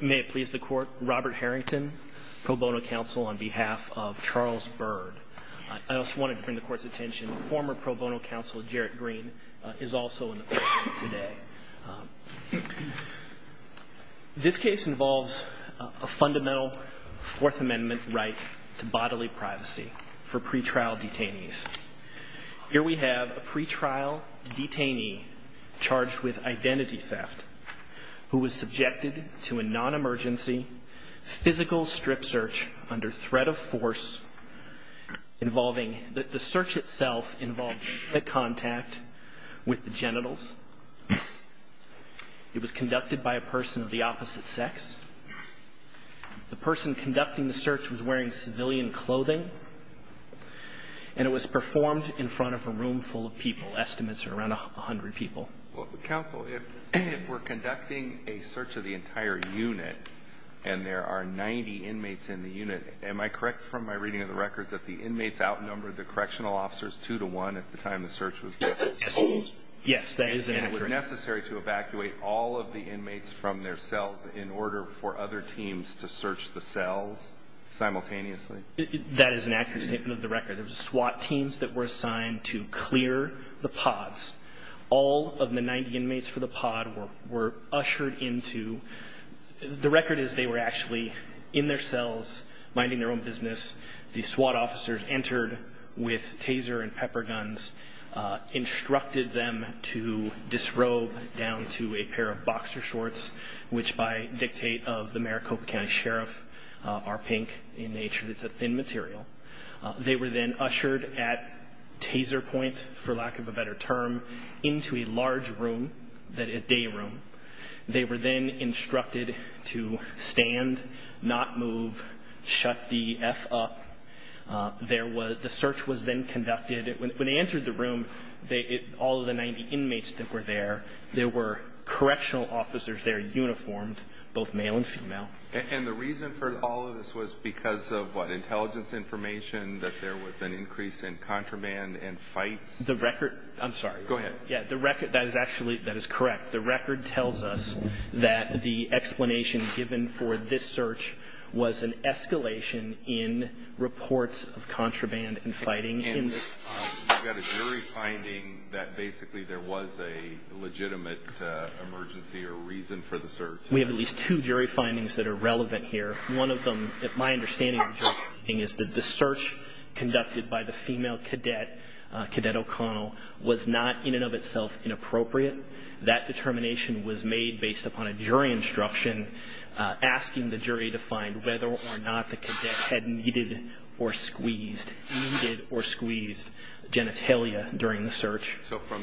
May it please the court, Robert Harrington, pro bono counsel on behalf of Charles Byrd. I also wanted to bring the court's attention, former pro bono counsel Jarrett Green is also in the courtroom today. This case involves a fundamental Fourth Amendment right to bodily privacy for pre-trial detainees. Here we have a pre-trial detainee charged with identity theft who was subjected to a non-emergency physical strip search under threat of force involving, the search itself involved direct contact with the genitals. It was conducted by a person of the opposite sex. The person conducting the search was wearing civilian clothing, and it was performed in front of a room full of people. Estimates are around 100 people. Well, counsel, if we're conducting a search of the entire unit, and there are 90 inmates in the unit, am I correct from my reading of the records that the inmates outnumbered the correctional officers 2 to 1 at the time the search was done? Yes. Yes, that is inaccurate. And it was necessary to evacuate all of the inmates from their cells in order for other teams to search the cells simultaneously? That is an inaccurate statement of the record. There were SWAT teams that were assigned to clear the pods. All of the 90 inmates for the pod were ushered into the record is they were actually in their cells, minding their own business. The SWAT officers entered with taser and pepper guns, instructed them to disrobe down to a pair of boxer shorts, which by dictate of the Maricopa County Sheriff are pink in nature. It's a thin material. They were then ushered at taser point, for lack of a better term, into a large room, a day room. They were then instructed to stand, not move, shut the F up. The search was then conducted. When they entered the room, all of the 90 inmates that were there, there were correctional officers there, uniformed, both male and female. And the reason for all of this was because of what, intelligence information, that there was an increase in contraband and fights? The record, I'm sorry. Go ahead. Yeah, the record, that is actually, that is correct. The record tells us that the explanation given for this search was an escalation in reports of contraband and fighting. And you've got a jury finding that basically there was a legitimate emergency or reason for the search? We have at least two jury findings that are relevant here. One of them, my understanding of the jury finding is that the search conducted by the female cadet, Cadet O'Connell, was not in and of itself inappropriate. That determination was made based upon a jury instruction asking the jury to find whether or not the cadet had needed or squeezed genitalia during the search. So from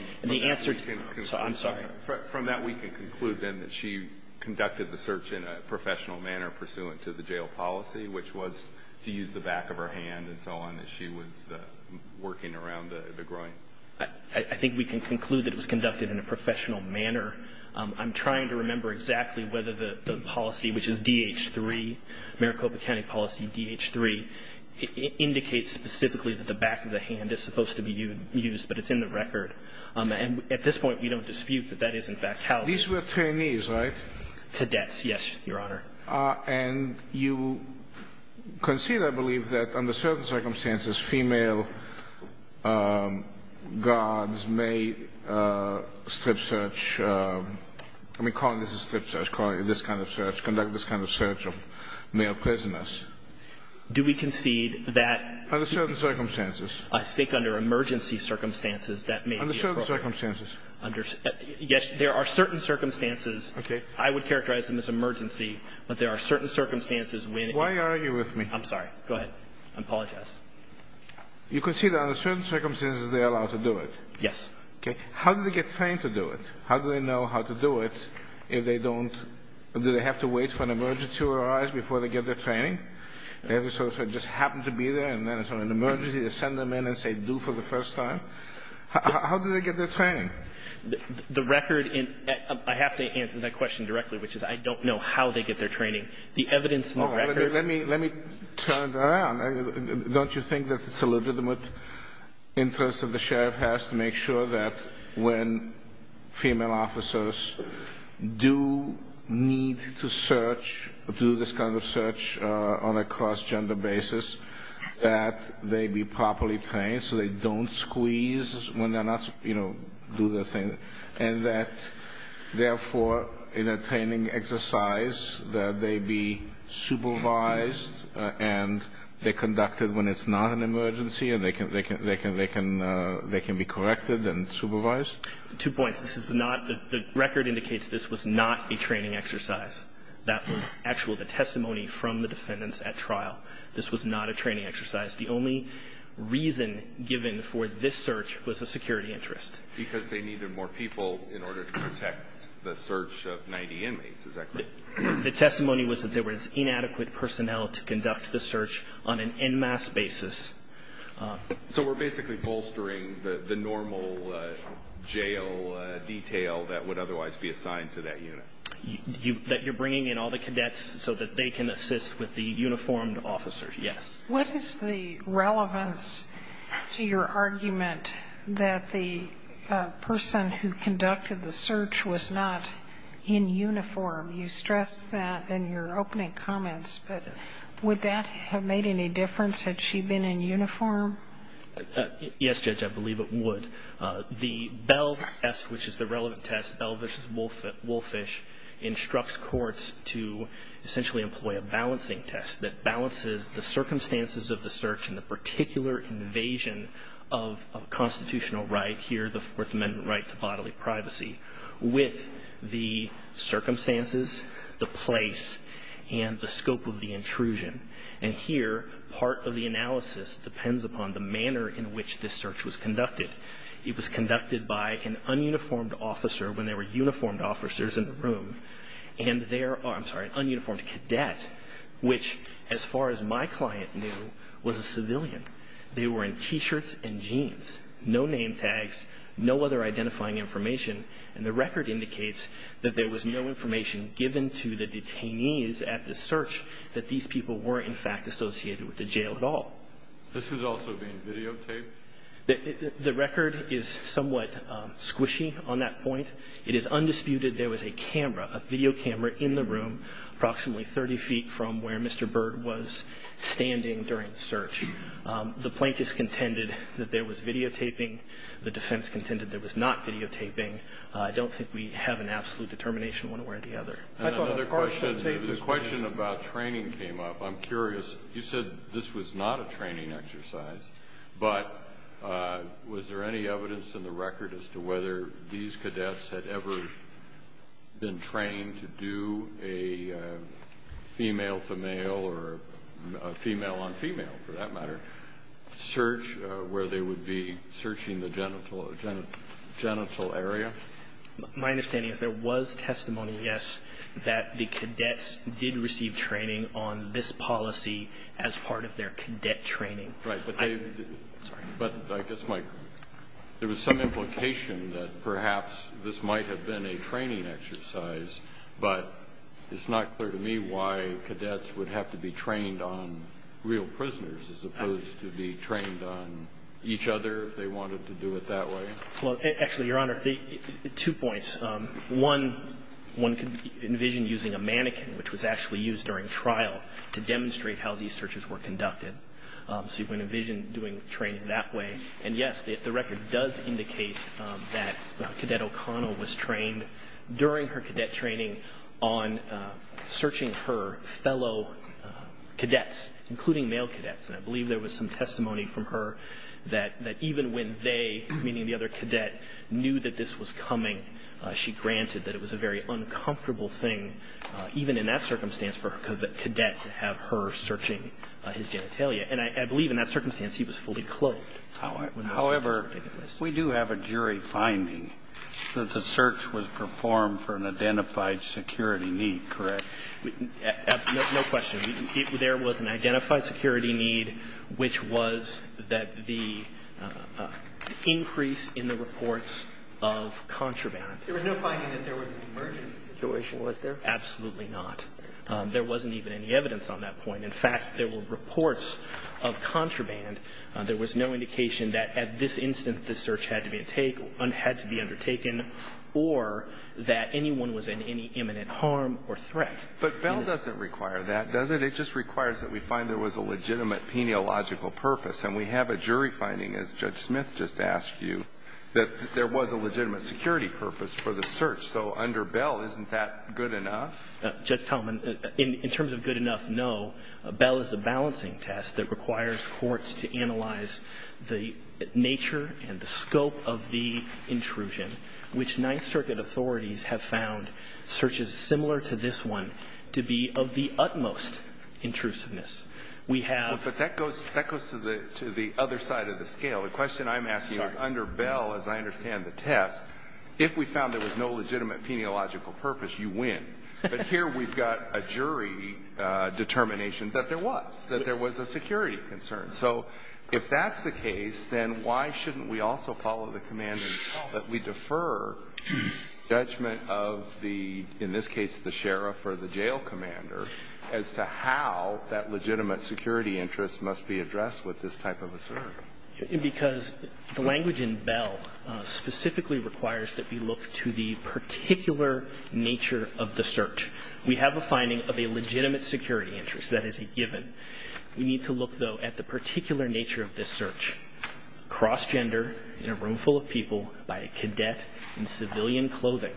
that we can conclude then that she conducted the search in a professional manner pursuant to the jail policy, which was to use the back of her hand and so on, that she was working around the groin? I think we can conclude that it was conducted in a professional manner. I'm trying to remember exactly whether the policy, which is D.H. 3, Maricopa County policy D.H. 3, indicates specifically that the back of the hand is supposed to be used, but it's in the record. And at this point we don't dispute that that is, in fact, how it was. These were trainees, right? Cadets, yes, Your Honor. And you concede, I believe, that under certain circumstances, female guards may strip search, I mean, call it a strip search, call it this kind of search, conduct this kind of search of male prisoners. Do we concede that? Under certain circumstances. A stake under emergency circumstances that may be appropriate. Under certain circumstances. Yes, there are certain circumstances. Okay. I would characterize them as emergency, but there are certain circumstances when it is. Why are you arguing with me? I'm sorry. Go ahead. I apologize. You concede that under certain circumstances they are allowed to do it? Yes. Okay. How do they get trained to do it? How do they know how to do it if they don't, do they have to wait for an emergency to arise before they get their training? They have to sort of just happen to be there and then it's an emergency to send them in and say do for the first time? How do they get their training? The record, I have to answer that question directly, which is I don't know how they get their training. The evidence, the record. Let me turn it around. Don't you think that it's a legitimate interest that the sheriff has to make sure that when female officers do need to search, do this kind of search on a cross-gender basis, that they be properly trained so they don't squeeze when they're not, you know, do their thing, and that, therefore, in a training exercise, that they be supervised and they conduct it when it's not an emergency and they can be corrected and supervised? Two points. This is not, the record indicates this was not a training exercise. That was actually the testimony from the defendants at trial. This was not a training exercise. The only reason given for this search was a security interest. Because they needed more people in order to protect the search of 90 inmates, is that correct? The testimony was that there was inadequate personnel to conduct the search on an en masse basis. So we're basically bolstering the normal jail detail that would otherwise be assigned to that unit? That you're bringing in all the cadets so that they can assist with the uniformed officers, yes. What is the relevance to your argument that the person who conducted the search was not in uniform? You stressed that in your opening comments. But would that have made any difference had she been in uniform? Yes, Judge, I believe it would. The Bell test, which is the relevant test, Bell v. Wolfish, instructs courts to essentially employ a balancing test that balances the circumstances of the search and the particular invasion of constitutional right here, the Fourth Amendment right to bodily privacy, with the circumstances, the place, and the scope of the intrusion. And here, part of the analysis depends upon the manner in which this search was conducted. It was conducted by an ununiformed officer when there were uniformed officers in the room. And there are, I'm sorry, an ununiformed cadet, which, as far as my client knew, was a civilian. They were in T-shirts and jeans, no name tags, no other identifying information. And the record indicates that there was no information given to the detainees at the search that these people were, in fact, associated with the jail at all. This is also being videotaped? The record is somewhat squishy on that point. It is undisputed there was a camera, a video camera, in the room approximately 30 feet from where Mr. Byrd was standing during the search. The plaintiffs contended that there was videotaping. The defense contended there was not videotaping. I don't think we have an absolute determination one way or the other. And another question. The question about training came up. I'm curious. You said this was not a training exercise, but was there any evidence in the record as to whether these cadets had ever been trained to do a female-to-male or female-on-female, for that matter, search where they would be searching the genital area? My understanding is there was testimony, yes, that the cadets did receive training on this policy as part of their cadet training. Right. But I guess my question, there was some implication that perhaps this might have been a training exercise, but it's not clear to me why cadets would have to be trained on real prisoners as opposed to be trained on each other if they wanted to do it that Well, actually, Your Honor, two points. One, one could envision using a mannequin, which was actually used during trial, to demonstrate how these searches were conducted. So you can envision doing training that way. And, yes, the record does indicate that Cadet O'Connell was trained during her cadet training on searching her fellow cadets, including male cadets. And I believe there was some testimony from her that even when they, meaning the other cadet, knew that this was coming, she granted that it was a very uncomfortable thing, even in that circumstance, for cadets to have her searching his genitalia. And I believe in that circumstance he was fully clothed. However, we do have a jury finding that the search was performed for an identified security need, correct? No question. There was an identified security need, which was that the increase in the reports of contraband. There was no finding that there was an emergency situation, was there? Absolutely not. There wasn't even any evidence on that point. In fact, there were reports of contraband. There was no indication that at this instance the search had to be undertaken or that anyone was in any imminent harm or threat. But Bell doesn't require that, does it? It just requires that we find there was a legitimate peniological purpose. And we have a jury finding, as Judge Smith just asked you, that there was a legitimate security purpose for the search. So under Bell, isn't that good enough? Judge Talman, in terms of good enough, no. Bell is a balancing test that requires courts to analyze the nature and the scope of the intrusion, which Ninth Circuit authorities have found searches similar to this one to be of the utmost intrusiveness. We have ---- But that goes to the other side of the scale. The question I'm asking is under Bell, as I understand the test, if we found there was no legitimate peniological purpose, you win. But here we've got a jury determination that there was, that there was a security concern. So if that's the case, then why shouldn't we also follow the command and tell that we defer judgment of the, in this case, the sheriff or the jail commander, as to how that legitimate security interest must be addressed with this type of a search? Because the language in Bell specifically requires that we look to the particular nature of the search. We have a finding of a legitimate security interest, that is a given. We need to look, though, at the particular nature of this search, cross-gender, in a room full of people, by a cadet in civilian clothing,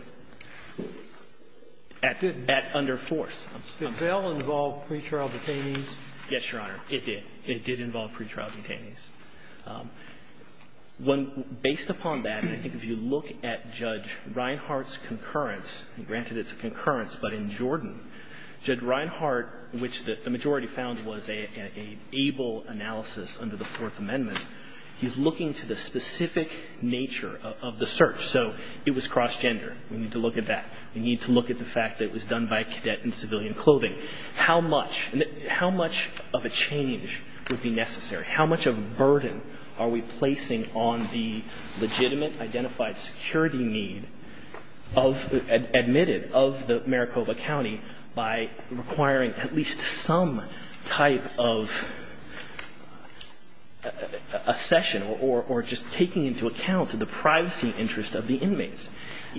at under force. Did Bell involve pretrial detainees? Yes, Your Honor, it did. It did involve pretrial detainees. When ---- based upon that, I think if you look at Judge Reinhart's concurrence ---- granted it's a concurrence, but in Jordan, Judge Reinhart, which the majority found was an able analysis under the Fourth Amendment, he's looking to the specific nature of the search. So it was cross-gender. We need to look at that. We need to look at the fact that it was done by a cadet in civilian clothing. How much, how much of a change would be necessary? How much of a burden are we placing on the legitimate identified security need of, admitted of the Maricopa County by requiring at least some type of accession or just taking into account the privacy interest of the inmates?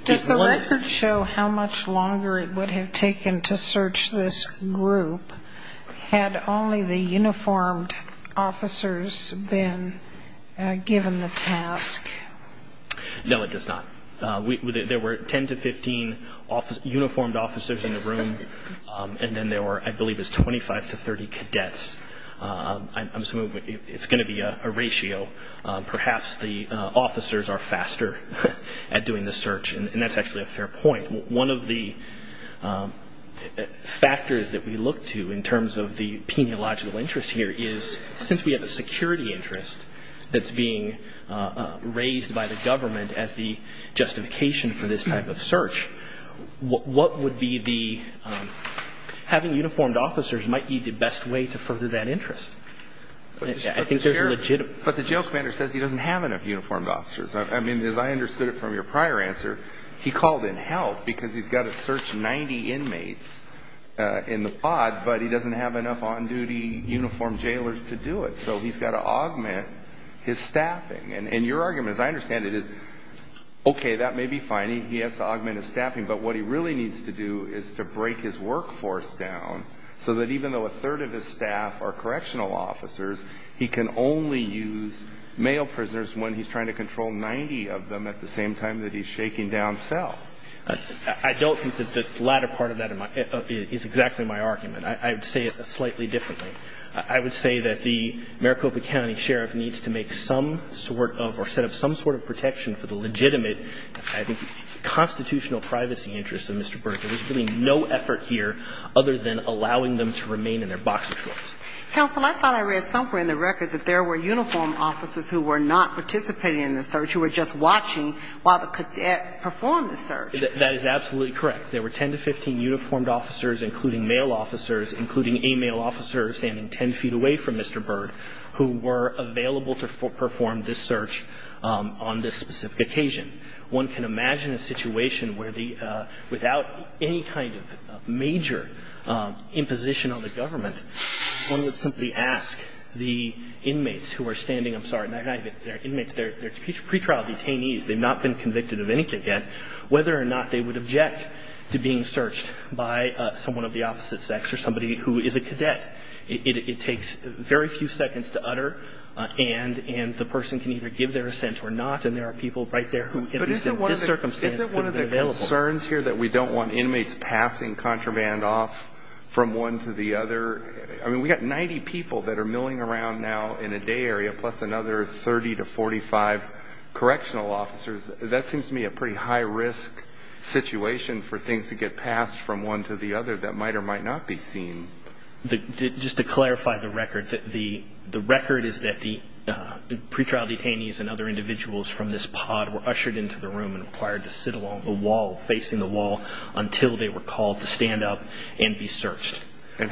Does the record show how much longer it would have taken to search this group had only the officers been given the task? No, it does not. There were 10 to 15 uniformed officers in the room, and then there were, I believe, it was 25 to 30 cadets. I'm assuming it's going to be a ratio. Perhaps the officers are faster at doing the search, and that's actually a fair point. One of the factors that we look to in terms of the penealogical interest here is since we have a security interest that's being raised by the government as the justification for this type of search, what would be the, having uniformed officers might be the best way to further that interest. I think there's a legitimate. But the jail commander says he doesn't have enough uniformed officers. I mean, as I understood it from your prior answer, he called in help because he's got to search 90 inmates in the pod, but he doesn't have enough on-duty uniformed jailers to do it. So he's got to augment his staffing. And your argument, as I understand it, is okay, that may be fine. He has to augment his staffing. But what he really needs to do is to break his workforce down so that even though a third of his staff are in the pod, he's not going to be able to search 90 of them at the same time that he's shaking down cell. I don't think that the latter part of that is exactly my argument. I would say it slightly differently. I would say that the Maricopa County Sheriff needs to make some sort of or set up some sort of protection for the legitimate, I think, constitutional privacy interests of Mr. Burke. There's really no effort here other than allowing them to remain in their box of choice. Counsel, I thought I read somewhere in the record that there were uniformed officers who were not participating in the search, who were just watching while the cadets performed the search. That is absolutely correct. There were 10 to 15 uniformed officers, including male officers, including a male officer standing 10 feet away from Mr. Burke, who were available to perform this search on this specific occasion. One can imagine a situation where the – without any kind of major imposition on the government, one would simply ask the inmates who are standing – I'm sorry, not inmates. They're pretrial detainees. They've not been convicted of anything yet, whether or not they would object to being searched by someone of the opposite sex or somebody who is a cadet. It takes very few seconds to utter, and the person can either give their assent or not, and there are people right there who, at least in this circumstance, could have been available. But isn't one of the concerns here that we don't want inmates passing contraband off from one to the other? I mean, we've got 90 people that are milling around now in a day area, plus another 30 to 45 correctional officers. That seems to me a pretty high-risk situation for things to get passed from one to the other that might or might not be seen. Just to clarify the record, the record is that the pretrial detainees and other individuals from this pod were ushered into the room and required to sit along the wall facing the wall until they were called to stand up and be searched. And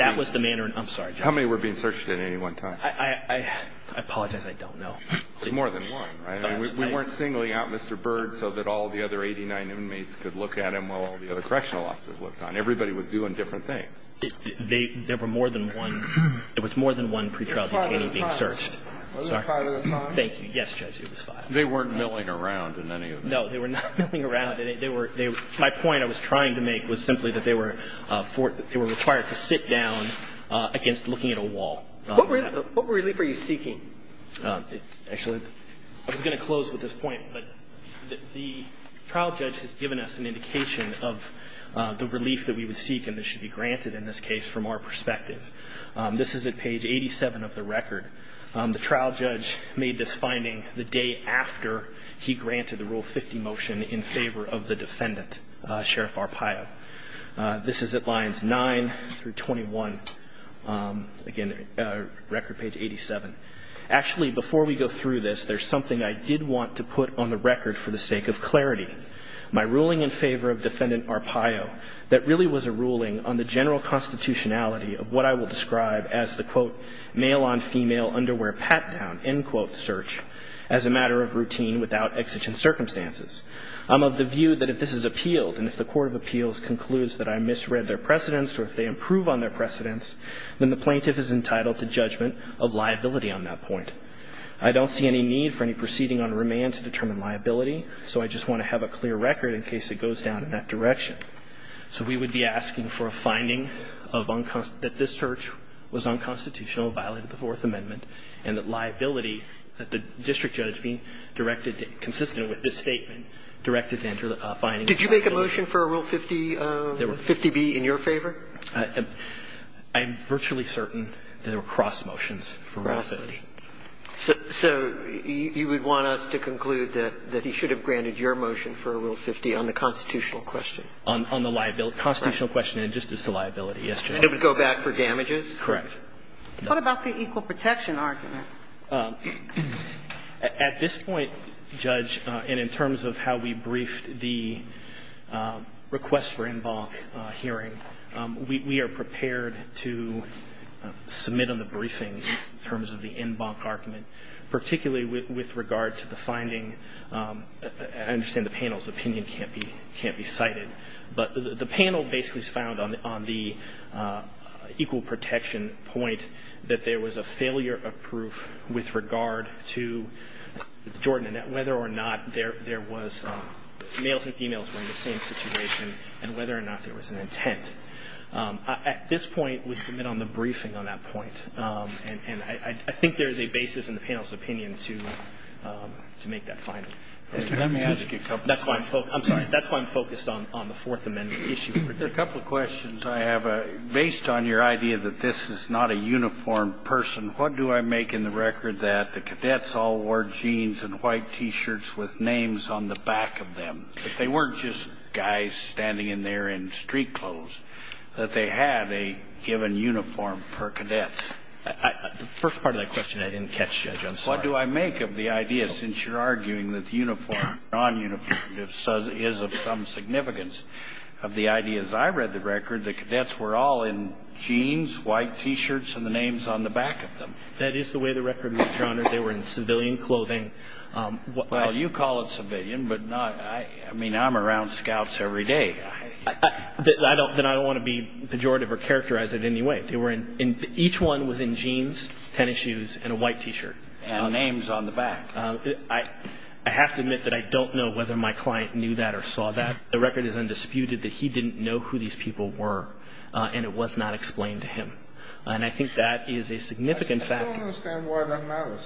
that was the manner in – I'm sorry, Jeff. How many were being searched at any one time? I apologize, I don't know. There's more than one, right? We weren't singling out Mr. Bird so that all the other 89 inmates could look at him while all the other correctional officers looked on. And everybody was doing different things. There were more than one. There was more than one pretrial detainee being searched. Was it five at a time? Thank you. Yes, Judge, it was five. They weren't milling around in any of them. No, they were not milling around. My point I was trying to make was simply that they were required to sit down against looking at a wall. What relief are you seeking? Actually, I was going to close with this point, but the trial judge has given us an indication of the relief that we would seek and that should be granted in this case from our perspective. This is at page 87 of the record. The trial judge made this finding the day after he granted the Rule 50 motion in favor of the defendant, Sheriff Arpaio. This is at lines 9 through 21. Again, record page 87. Actually, before we go through this, there's something I did want to put on the record for the sake of clarity. My ruling in favor of Defendant Arpaio, that really was a ruling on the general constitutionality of what I will describe as the, quote, male-on-female underwear pat-down, end quote, search, as a matter of routine without exigent circumstances. I'm of the view that if this is appealed and if the court of appeals concludes that I misread their precedents or if they improve on their precedents, then the plaintiff is entitled to judgment of liability on that point. I don't see any need for any proceeding on remand to determine liability, so I just want to have a clear record in case it goes down in that direction. So we would be asking for a finding of unconstitutional, that this search was unconstitutional, violated the Fourth Amendment, and that liability, that the district judge being directed to, consistent with this statement, directed to enter a finding of unconstitutional. Did you make a motion for a Rule 50B in your favor? I'm virtually certain that there were cross motions for Rule 50. So you would want us to conclude that he should have granted your motion for a Rule 50 on the constitutional question? On the constitutional question and just as to liability, yes, Judge. And it would go back for damages? Correct. What about the equal protection argument? At this point, Judge, and in terms of how we briefed the request for en banc hearing, we are prepared to submit on the briefing in terms of the en banc argument, particularly with regard to the finding. I understand the panel's opinion can't be cited, but the panel basically found on the equal protection point that there was a failure of proof with regard to Jordan, and that whether or not there was males and females were in the same situation and whether or not there was an intent. At this point, we submit on the briefing on that point. And I think there is a basis in the panel's opinion to make that finding. Let me add a couple of things. I'm sorry. That's why I'm focused on the Fourth Amendment issue. There are a couple of questions I have. Based on your idea that this is not a uniformed person, what do I make in the record that the cadets all wore jeans and white T-shirts with names on the back of them, that they weren't just guys standing in there in street clothes, that they had a given uniform per cadet? The first part of that question I didn't catch, Judge. I'm sorry. What do I make of the idea, since you're arguing that uniform, non-uniform, is of some significance of the ideas I read the record, the cadets were all in jeans, white T-shirts, and the names on the back of them? That is the way the record was generated. They were in civilian clothing. Well, you call it civilian, but I mean, I'm around scouts every day. Then I don't want to be pejorative or characterize it in any way. Each one was in jeans, tennis shoes, and a white T-shirt. And names on the back. I have to admit that I don't know whether my client knew that or saw that. The record is undisputed that he didn't know who these people were, and it was not explained to him. And I think that is a significant factor. I still don't understand why that matters.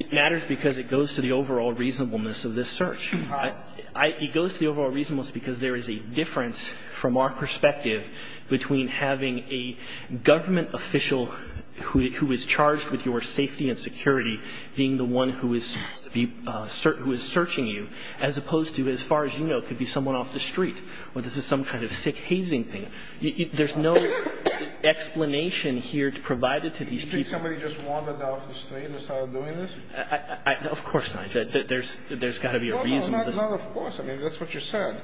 It matters because it goes to the overall reasonableness of this search. It goes to the overall reasonableness because there is a difference from our perspective between having a government official who is charged with your safety and security being the one who is searching you, as opposed to, as far as you know, could be someone off the street. Well, this is some kind of sick, hazing thing. There's no explanation here provided to these people. Do you think somebody just wandered off the street and started doing this? Of course not. There's got to be a reason. No, no, not of course. I mean, that's what you said.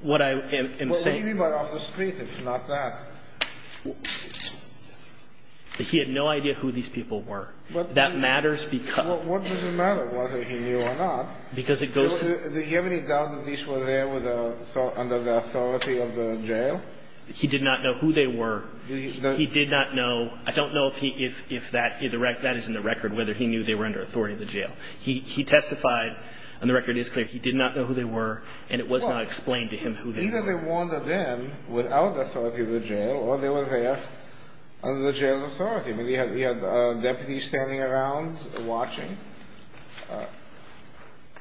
What I am saying. What do you mean by off the street, if not that? He had no idea who these people were. That matters because. What does it matter whether he knew or not? Because it goes to. Do you have any doubt that these were there under the authority of the jail? He did not know who they were. He did not know. I don't know if that is in the record, whether he knew they were under authority of the jail. He testified, and the record is clear, he did not know who they were, and it was not explained to him who they were. Either they wandered in without authority of the jail, or they were there under the jail authority. Maybe he had deputies standing around watching.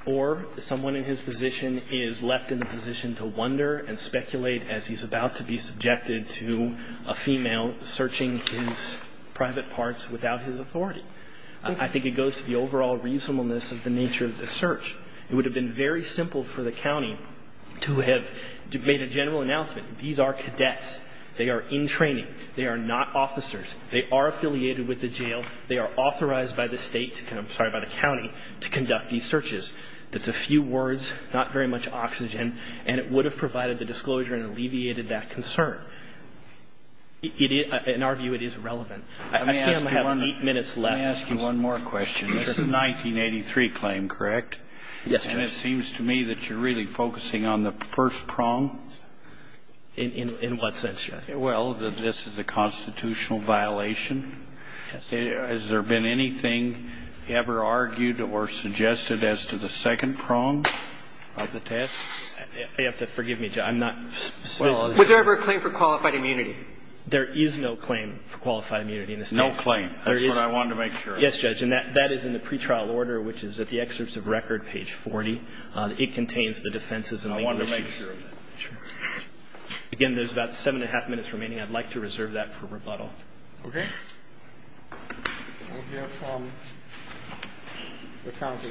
Or someone in his position is left in a position to wonder and speculate as he's about to be subjected to a female searching his private parts without his authority. I think it goes to the overall reasonableness of the nature of the search. It would have been very simple for the county to have made a general announcement. These are cadets. They are in training. They are not officers. They are affiliated with the jail. They are authorized by the state to come, sorry, by the county to conduct these searches. That's a few words, not very much oxygen, and it would have provided the disclosure and alleviated that concern. In our view, it is relevant. I see I'm having eight minutes left. Let me ask you one more question. This is a 1983 claim, correct? Yes, Judge. And it seems to me that you're really focusing on the first prong. In what sense, Judge? Well, this is a constitutional violation. Has there been anything ever argued or suggested as to the second prong of the test? You have to forgive me, Judge. I'm not specific. Was there ever a claim for qualified immunity? There is no claim for qualified immunity in this case. No claim. That's what I wanted to make sure of. Yes, Judge. And that is in the pretrial order, which is at the excerpts of record, page 40. It contains the defenses and legal issues. I wanted to make sure of that. Sure. Again, there's about seven and a half minutes remaining. I'd like to reserve that for rebuttal. Okay. We'll hear from the County.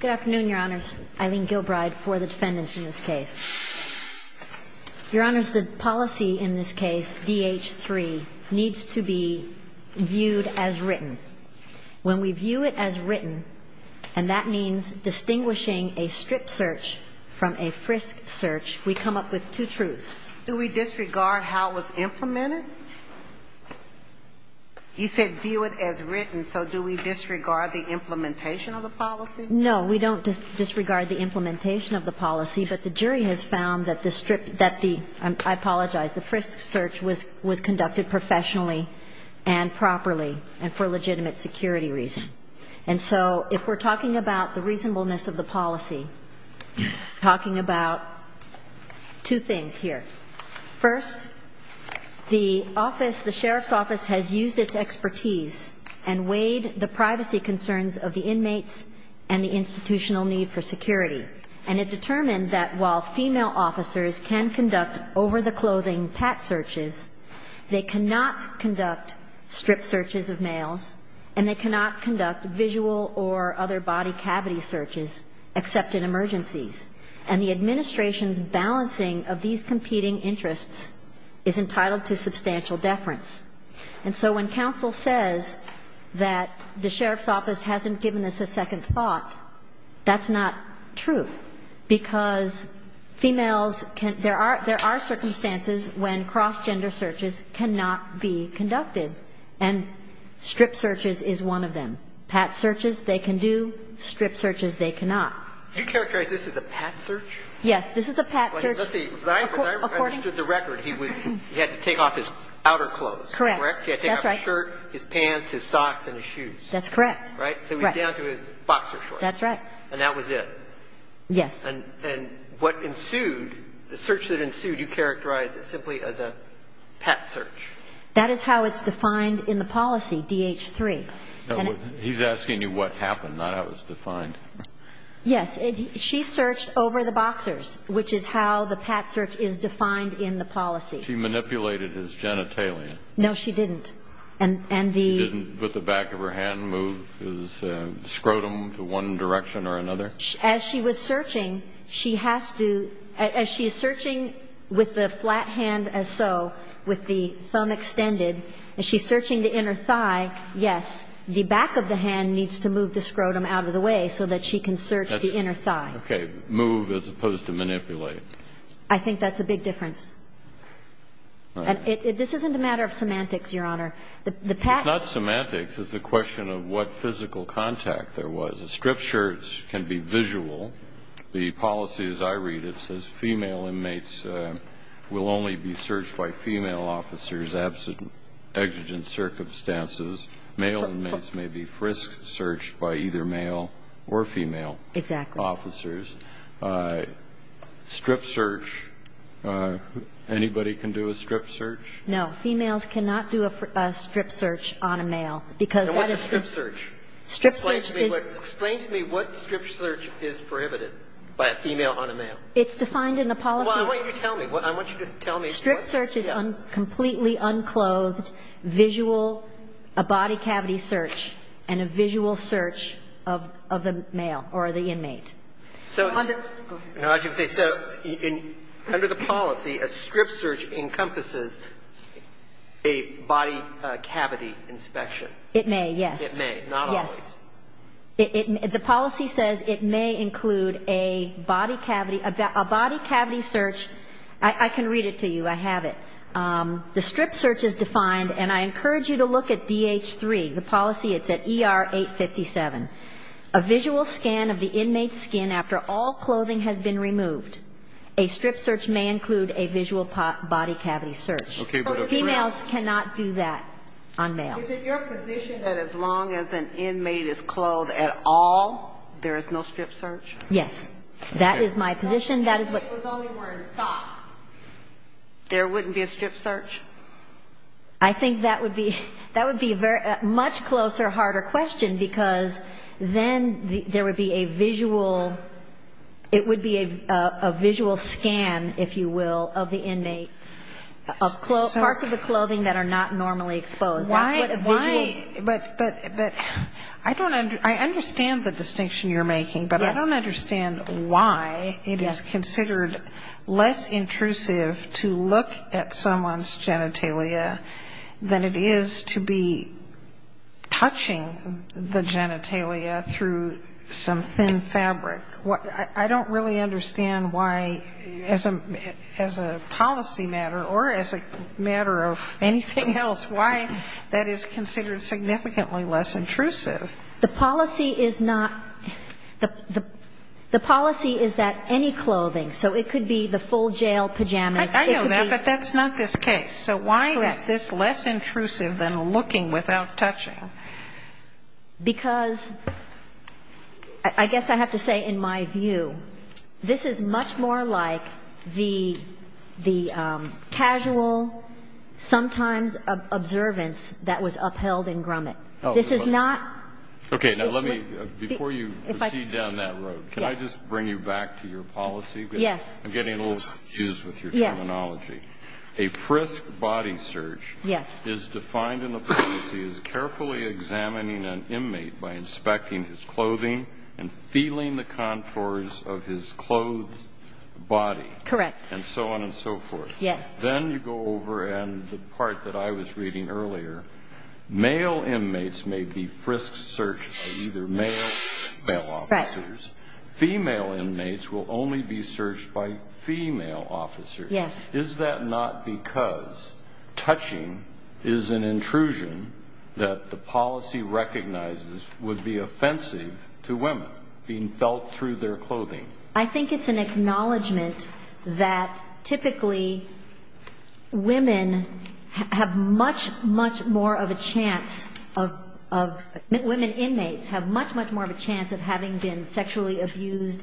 Good afternoon, Your Honors. Eileen Gilbride for the defendants in this case. Your Honors, the policy in this case, DH3, needs to be viewed as written. When we view it as written, and that means distinguishing a strip search from a frisk search, we come up with two truths. Do we disregard how it was implemented? You said view it as written, so do we disregard the implementation of the policy? No, we don't disregard the implementation of the policy, but the jury has found that the strip, that the, I apologize, the frisk search was conducted professionally and properly and for legitimate security reasons. And so if we're talking about the reasonableness of the policy, talking about two things here. First, the office, the sheriff's office has used its expertise and weighed the privacy concerns of the inmates and the institutional need for security. And it determined that while female officers can conduct over-the-clothing pat searches, they cannot conduct strip searches of males, and they cannot conduct visual or other body cavity searches except in emergencies. And the administration's balancing of these competing interests is entitled to substantial deference. And so when counsel says that the sheriff's office hasn't given this a second thought, that's not true, because females can, there are, there are circumstances when cross-gender searches cannot be conducted, and strip searches is one of them. Pat searches they can do, strip searches they cannot. Do you characterize this as a pat search? Yes, this is a pat search. Let's see. If I understood the record, he was, he had to take off his outer clothes, correct? Correct. He had to take off his shirt, his pants, his socks, and his shoes. That's correct. Right? Right. So he's down to his boxer shorts. That's right. And that was it. Yes. And what ensued, the search that ensued, you characterize it simply as a pat search. That is how it's defined in the policy, DH3. He's asking you what happened, not how it was defined. Yes. She searched over the boxers, which is how the pat search is defined in the policy. She manipulated his genitalia. No, she didn't. And the… She didn't put the back of her hand, move his scrotum to one direction or another? As she was searching, she has to, as she's searching with the flat hand as so, with the thumb extended, as she's searching the inner thigh, yes, the back of the hand needs to move the scrotum out of the way so that she can search the inner thigh. Okay. Move as opposed to manipulate. I think that's a big difference. All right. And this isn't a matter of semantics, Your Honor. The pat… It's not semantics. It's a question of what physical contact there was. A strip shirt can be visual. The policy, as I read it, says female inmates will only be searched by female officers absent exigent circumstances. Male inmates may be frisked, searched by either male or female officers. Exactly. Strip search, anybody can do a strip search? No, females cannot do a strip search on a male because that is… And what's a strip search? Strip search is… It's defined in the policy… Well, I want you to tell me. I want you to just tell me what… Strip search is completely unclothed, visual, a body cavity search, and a visual search of the male or the inmate. So… Go ahead. No, I should say, so under the policy, a strip search encompasses a body cavity inspection. It may, yes. It may, not always. Yes. The policy says it may include a body cavity, a body cavity search. I can read it to you. I have it. The strip search is defined, and I encourage you to look at DH3. The policy, it's at ER 857. A visual scan of the inmate's skin after all clothing has been removed. A strip search may include a visual body cavity search. Okay, but… Females cannot do that on males. Is it your position that as long as an inmate is clothed at all, there is no strip search? Yes. That is my position. That is what… If the inmate was only wearing socks, there wouldn't be a strip search? I think that would be a much closer, harder question because then there would be a visual… It would be a visual scan, if you will, of the inmate, of parts of the clothing that are not normally exposed. That's what a visual… But I don't understand the distinction you're making, but I don't understand why it is considered less intrusive to look at someone's genitalia than it is to be touching the genitalia through some thin fabric. I don't really understand why, as a policy matter or as a matter of anything else, why that is considered significantly less intrusive. The policy is not… The policy is that any clothing, so it could be the full jail pajamas, it could be… I know that, but that's not this case. So why is this less intrusive than looking without touching? Because, I guess I have to say in my view, this is much more like the casual, sometimes observance that was upheld in Grumman. This is not… Okay, now let me, before you proceed down that road, can I just bring you back to your policy? Yes. I'm getting a little confused with your terminology. A frisk body search… Yes.… is defined in the policy as carefully examining an inmate by inspecting his clothing and feeling the contours of his clothed body… Correct.… and so on and so forth. Yes. Then you go over, and the part that I was reading earlier, male inmates may be frisk searched by either male or female officers. Right. Female inmates will only be searched by female officers. Yes. Is that not because touching is an intrusion that the policy recognizes would be offensive to women being felt through their clothing? I think it's an acknowledgment that typically women have much, much more of a chance of… women inmates have much, much more of a chance of having been sexually abused,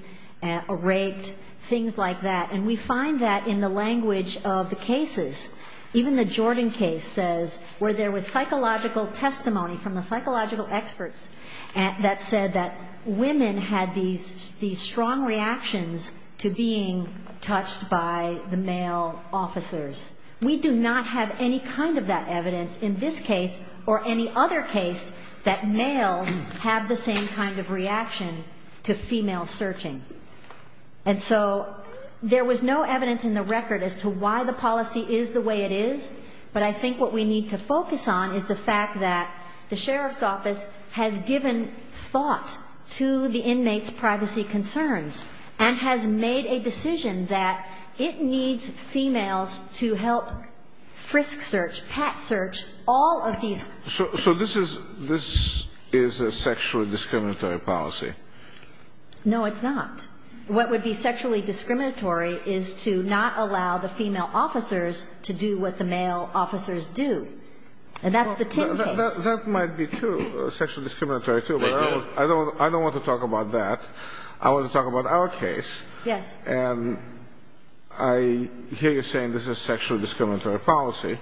raped, things like that. And we find that in the language of the cases. Even the Jordan case says where there was psychological testimony from the psychological experts that said that women had these strong reactions to being touched by the male officers. We do not have any kind of that evidence in this case or any other case that males have the same kind of reaction to female searching. And so there was no evidence in the record as to why the policy is the way it is, but I think what we need to focus on is the fact that the sheriff's office has given thought to the inmates' privacy concerns and has made a decision that it needs females to help frisk search, pat search all of these… So this is a sexually discriminatory policy? No, it's not. What would be sexually discriminatory is to not allow the female officers to do what the male officers do. And that's the Ting case. That might be true, sexually discriminatory, too, but I don't want to talk about that. I want to talk about our case. Yes. And I hear you saying this is a sexually discriminatory policy.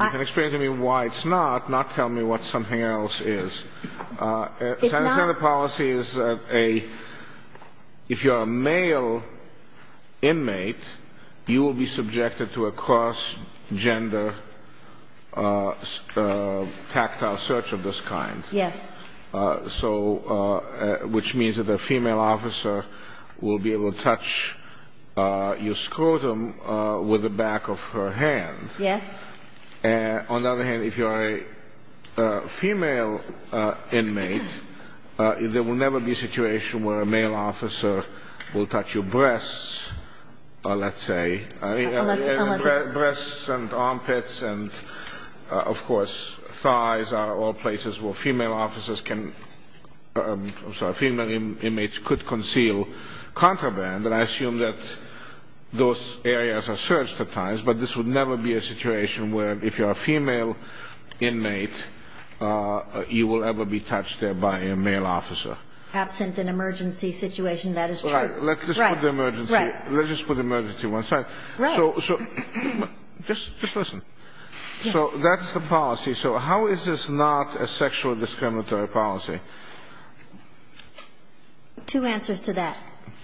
You can explain to me why it's not, not tell me what something else is. It's not. This kind of policy is if you're a male inmate, you will be subjected to a cross-gender tactile search of this kind. Yes. Which means that the female officer will be able to touch your scrotum with the back of her hand. Yes. On the other hand, if you are a female inmate, there will never be a situation where a male officer will touch your breasts, let's say. Breasts and armpits and, of course, thighs are all places where female officers can, I'm sorry, female inmates could conceal contraband. And I assume that those areas are searched at times, but this would never be a situation where if you're a female inmate, you will ever be touched there by a male officer. Absent an emergency situation, that is true. Right. Let's just put the emergency to one side. Right. So just listen. So that's the policy. So how is this not a sexual discriminatory policy? Two answers to that.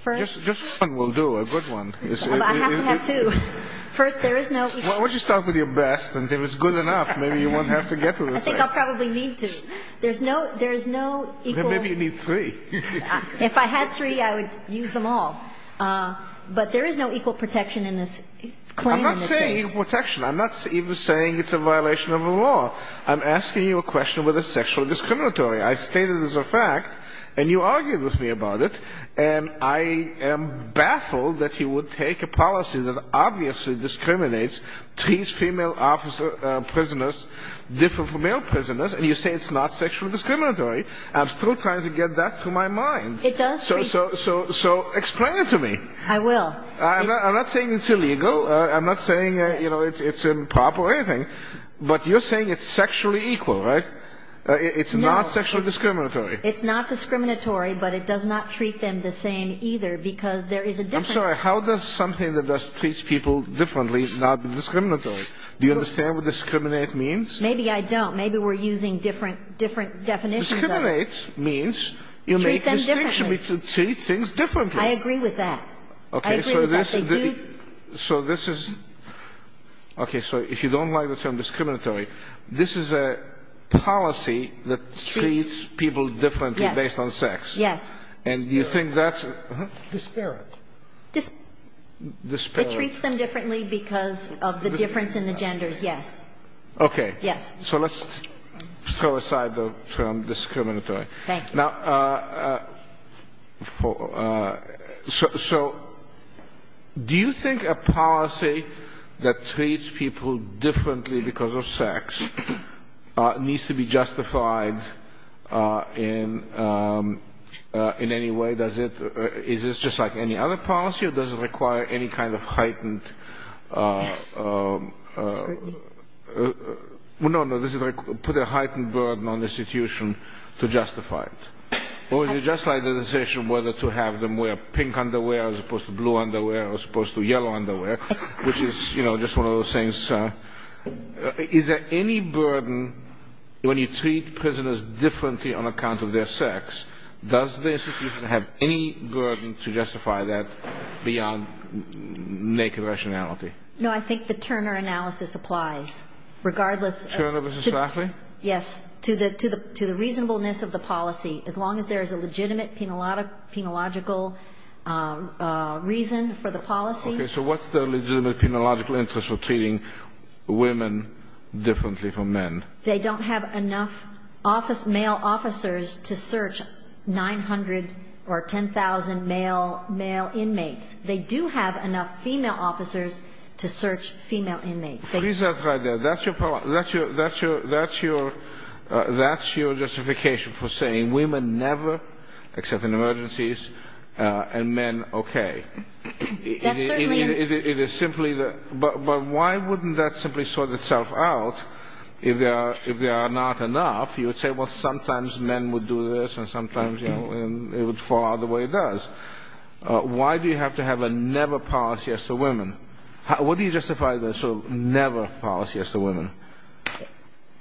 Just one will do, a good one. I have to have two. First, there is no Why don't you start with your best, and if it's good enough, maybe you won't have to get to this. I think I'll probably need to. There's no equal Then maybe you need three. If I had three, I would use them all. But there is no equal protection in this claim in this case. I'm not saying equal protection. I'm not even saying it's a violation of the law. I'm asking you a question whether it's sexually discriminatory. I state it as a fact, and you argue with me about it, and I am baffled that you would take a policy that obviously discriminates, treats female prisoners different from male prisoners, and you say it's not sexually discriminatory. I'm still trying to get that through my mind. It does treat So explain it to me. I will. I'm not saying it's illegal. I'm not saying it's improper or anything, but you're saying it's sexually equal, right? It's not sexually discriminatory. It's not discriminatory, but it does not treat them the same either, because there is a difference. I'm sorry. How does something that just treats people differently not be discriminatory? Do you understand what discriminate means? Maybe I don't. Maybe we're using different definitions of it. Discriminate means you make a distinction between two things differently. I agree with that. Okay. I agree with that. They do So this is – okay. So if you don't like the term discriminatory, this is a policy that treats people differently based on sex. Yes. And you think that's – Disparate. Disparate. It treats them differently because of the difference in the genders, yes. Okay. Yes. So let's throw aside the term discriminatory. Thank you. Now, so do you think a policy that treats people differently because of sex needs to be justified in any way? Does it – is this just like any other policy, or does it require any kind of heightened – Yes. Or is it just like the decision whether to have them wear pink underwear as opposed to blue underwear or as opposed to yellow underwear, which is, you know, just one of those things? Is there any burden when you treat prisoners differently on account of their sex, does the institution have any burden to justify that beyond naked rationality? No, I think the Turner analysis applies, regardless of – Turner versus Lafley? Yes, to the reasonableness of the policy, as long as there is a legitimate penological reason for the policy. Okay. So what's the legitimate penological interest of treating women differently from men? They don't have enough male officers to search 900 or 10,000 male inmates. They do have enough female officers to search female inmates. So is that right there? That's your justification for saying women never, except in emergencies, and men, okay? Yes, certainly. It is simply – but why wouldn't that simply sort itself out if there are not enough? You would say, well, sometimes men would do this and sometimes, you know, it would fall out the way it does. Why do you have to have a never policy as to women? What do you justify the sort of never policy as to women?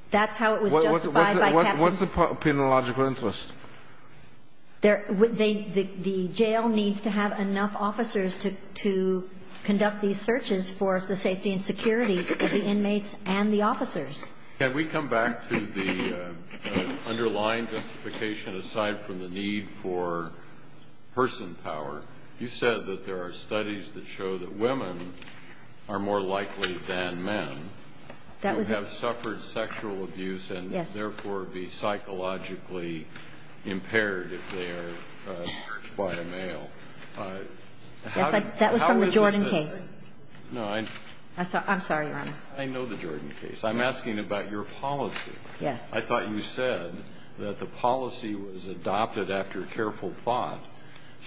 That's how it was justified by Captain – What's the penological interest? The jail needs to have enough officers to conduct these searches for the safety and security of the inmates and the officers. Can we come back to the underlying justification aside from the need for person power? You said that there are studies that show that women are more likely than men to have suffered sexual abuse and therefore be psychologically impaired if they are searched by a male. That was from the Jordan case. No, I – I'm sorry, Your Honor. I know the Jordan case. I'm asking about your policy. Yes. I thought you said that the policy was adopted after careful thought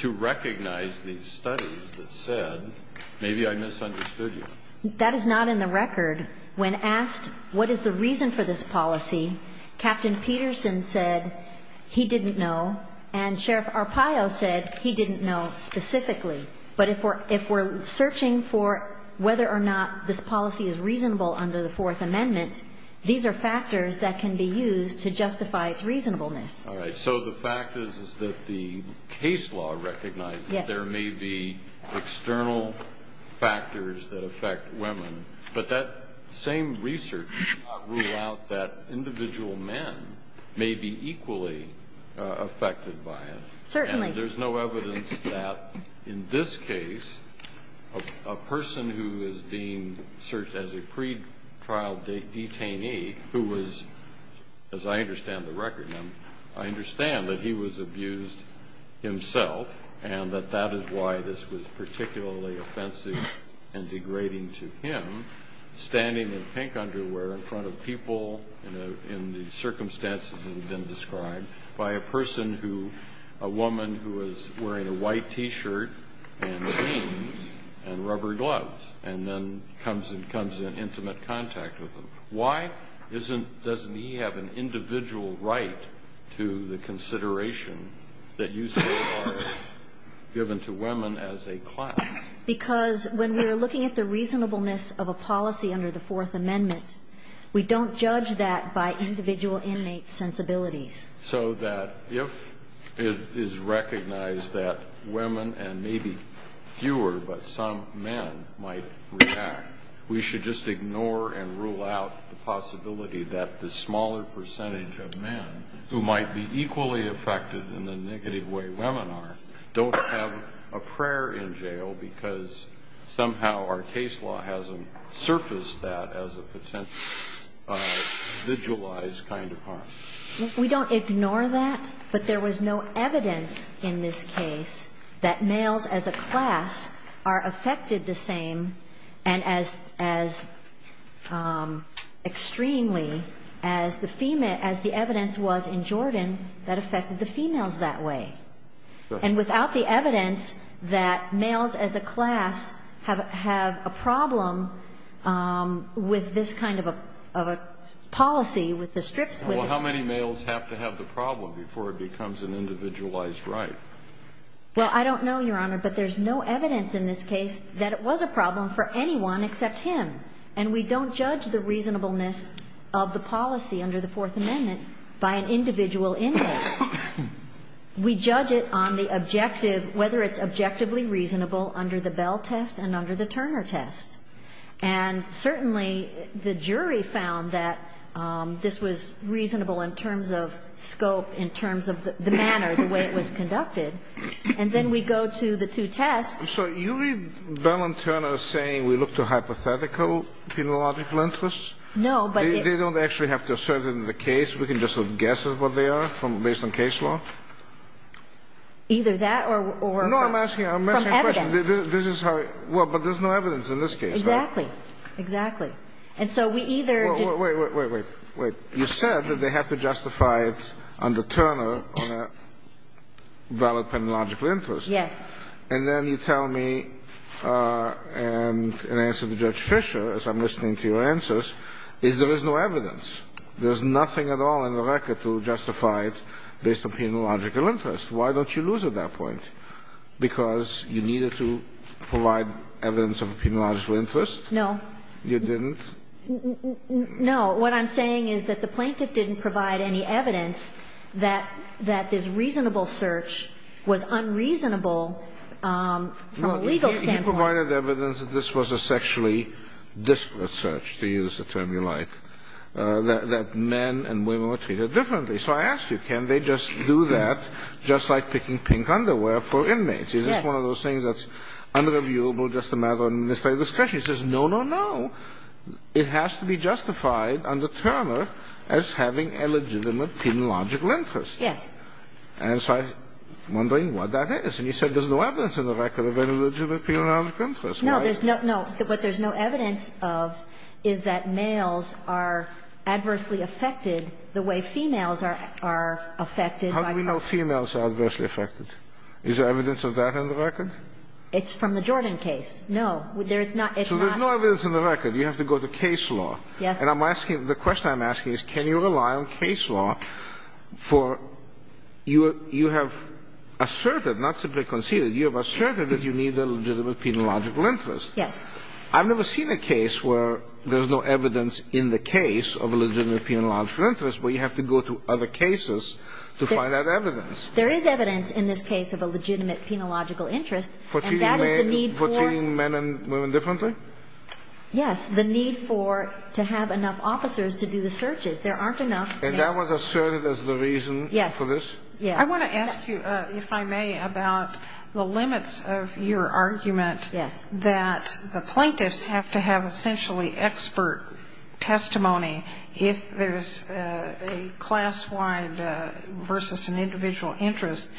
to recognize these studies that said maybe I misunderstood you. That is not in the record. When asked what is the reason for this policy, Captain Peterson said he didn't know and Sheriff Arpaio said he didn't know specifically. But if we're searching for whether or not this policy is reasonable under the Fourth Amendment, these are factors that can be used to justify its reasonableness. All right. So the fact is that the case law recognizes there may be external factors that affect women, but that same research does not rule out that individual men may be equally affected by it. Certainly. There's no evidence that in this case a person who is being searched as a pretrial detainee who was, as I understand the record, I understand that he was abused himself and that that is why this was particularly offensive and degrading to him, standing in pink underwear in front of people in the circumstances that have been described by a person who, a woman who is wearing a white T-shirt and jeans and rubber gloves and then comes in intimate contact with him. Why doesn't he have an individual right to the consideration that you say are given to women as a class? Because when we're looking at the reasonableness of a policy under the Fourth Amendment, we don't judge that by individual inmates' sensibilities. So that if it is recognized that women and maybe fewer but some men might react, we should just ignore and rule out the possibility that the smaller percentage of men who might be equally affected in the negative way women are don't have a prayer in jail because somehow our case law hasn't surfaced that as a potential vigilized kind of harm. We don't ignore that. But there was no evidence in this case that males as a class are affected the same and as extremely as the evidence was in Jordan that affected the females that way. And without the evidence that males as a class have a problem with this kind of a policy, with the strips with it. Well, how many males have to have the problem before it becomes an individualized right? Well, I don't know, Your Honor. But there's no evidence in this case that it was a problem for anyone except him. And we don't judge the reasonableness of the policy under the Fourth Amendment by an individual inmate. We judge it on the objective, whether it's objectively reasonable under the Bell test and under the Turner test. And certainly the jury found that this was reasonable in terms of scope, in terms of the manner, the way it was conducted. And then we go to the two tests. So you read Bell and Turner saying we look to hypothetical, phenological interests? No, but it's not. They don't actually have to assert it in the case. We can just guess at what they are based on case law? Either that or from evidence. No, I'm asking a question. Well, but there's no evidence in this case, right? Exactly. Exactly. And so we either don't. Wait, wait, wait, wait. You said that they have to justify it under Turner on a valid penological interest. Yes. And then you tell me, and in answer to Judge Fisher, as I'm listening to your answers, is there is no evidence. There's nothing at all in the record to justify it based on penological interest. Why don't you lose at that point? Because you needed to provide evidence of a penological interest? No. You didn't? No. What I'm saying is that the plaintiff didn't provide any evidence that this reasonable search was unreasonable from a legal standpoint. You provided evidence that this was a sexually disparate search, to use the term you like, that men and women were treated differently. So I ask you, can they just do that just like picking pink underwear for inmates? Yes. Is this one of those things that's unreviewable, just a matter of a mistake of discretion? He says, no, no, no. It has to be justified under Turner as having a legitimate penological interest. Yes. And so I'm wondering what that is. And you said there's no evidence in the record of any legitimate penological interest, right? There's no – no. What there's no evidence of is that males are adversely affected the way females are affected. How do we know females are adversely affected? Is there evidence of that in the record? It's from the Jordan case. No. There's not. So there's no evidence in the record. You have to go to case law. Yes. And I'm asking – the question I'm asking is can you rely on case law for – you have asserted, not simply conceded, you have asserted that you need a legitimate penological interest. I've never seen a case where there's no evidence in the case of a legitimate penological interest where you have to go to other cases to find that evidence. There is evidence in this case of a legitimate penological interest. And that is the need for – For treating men and women differently? Yes. The need for – to have enough officers to do the searches. There aren't enough – And that was asserted as the reason for this? Yes. Yes. I want to ask you, if I may, about the limits of your argument – Yes. – that the plaintiffs have to have essentially expert testimony if there's a class-wide versus an individual interest.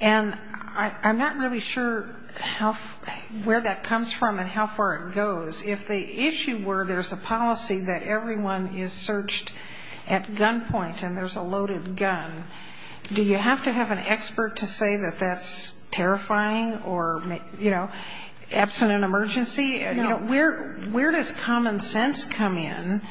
And I'm not really sure how – where that comes from and how far it goes. If the issue were there's a policy that everyone is searched at gunpoint and there's a loaded gun, do you have to have an expert to say that that's terrifying or, you know, in an emergency? No. Where does common sense come in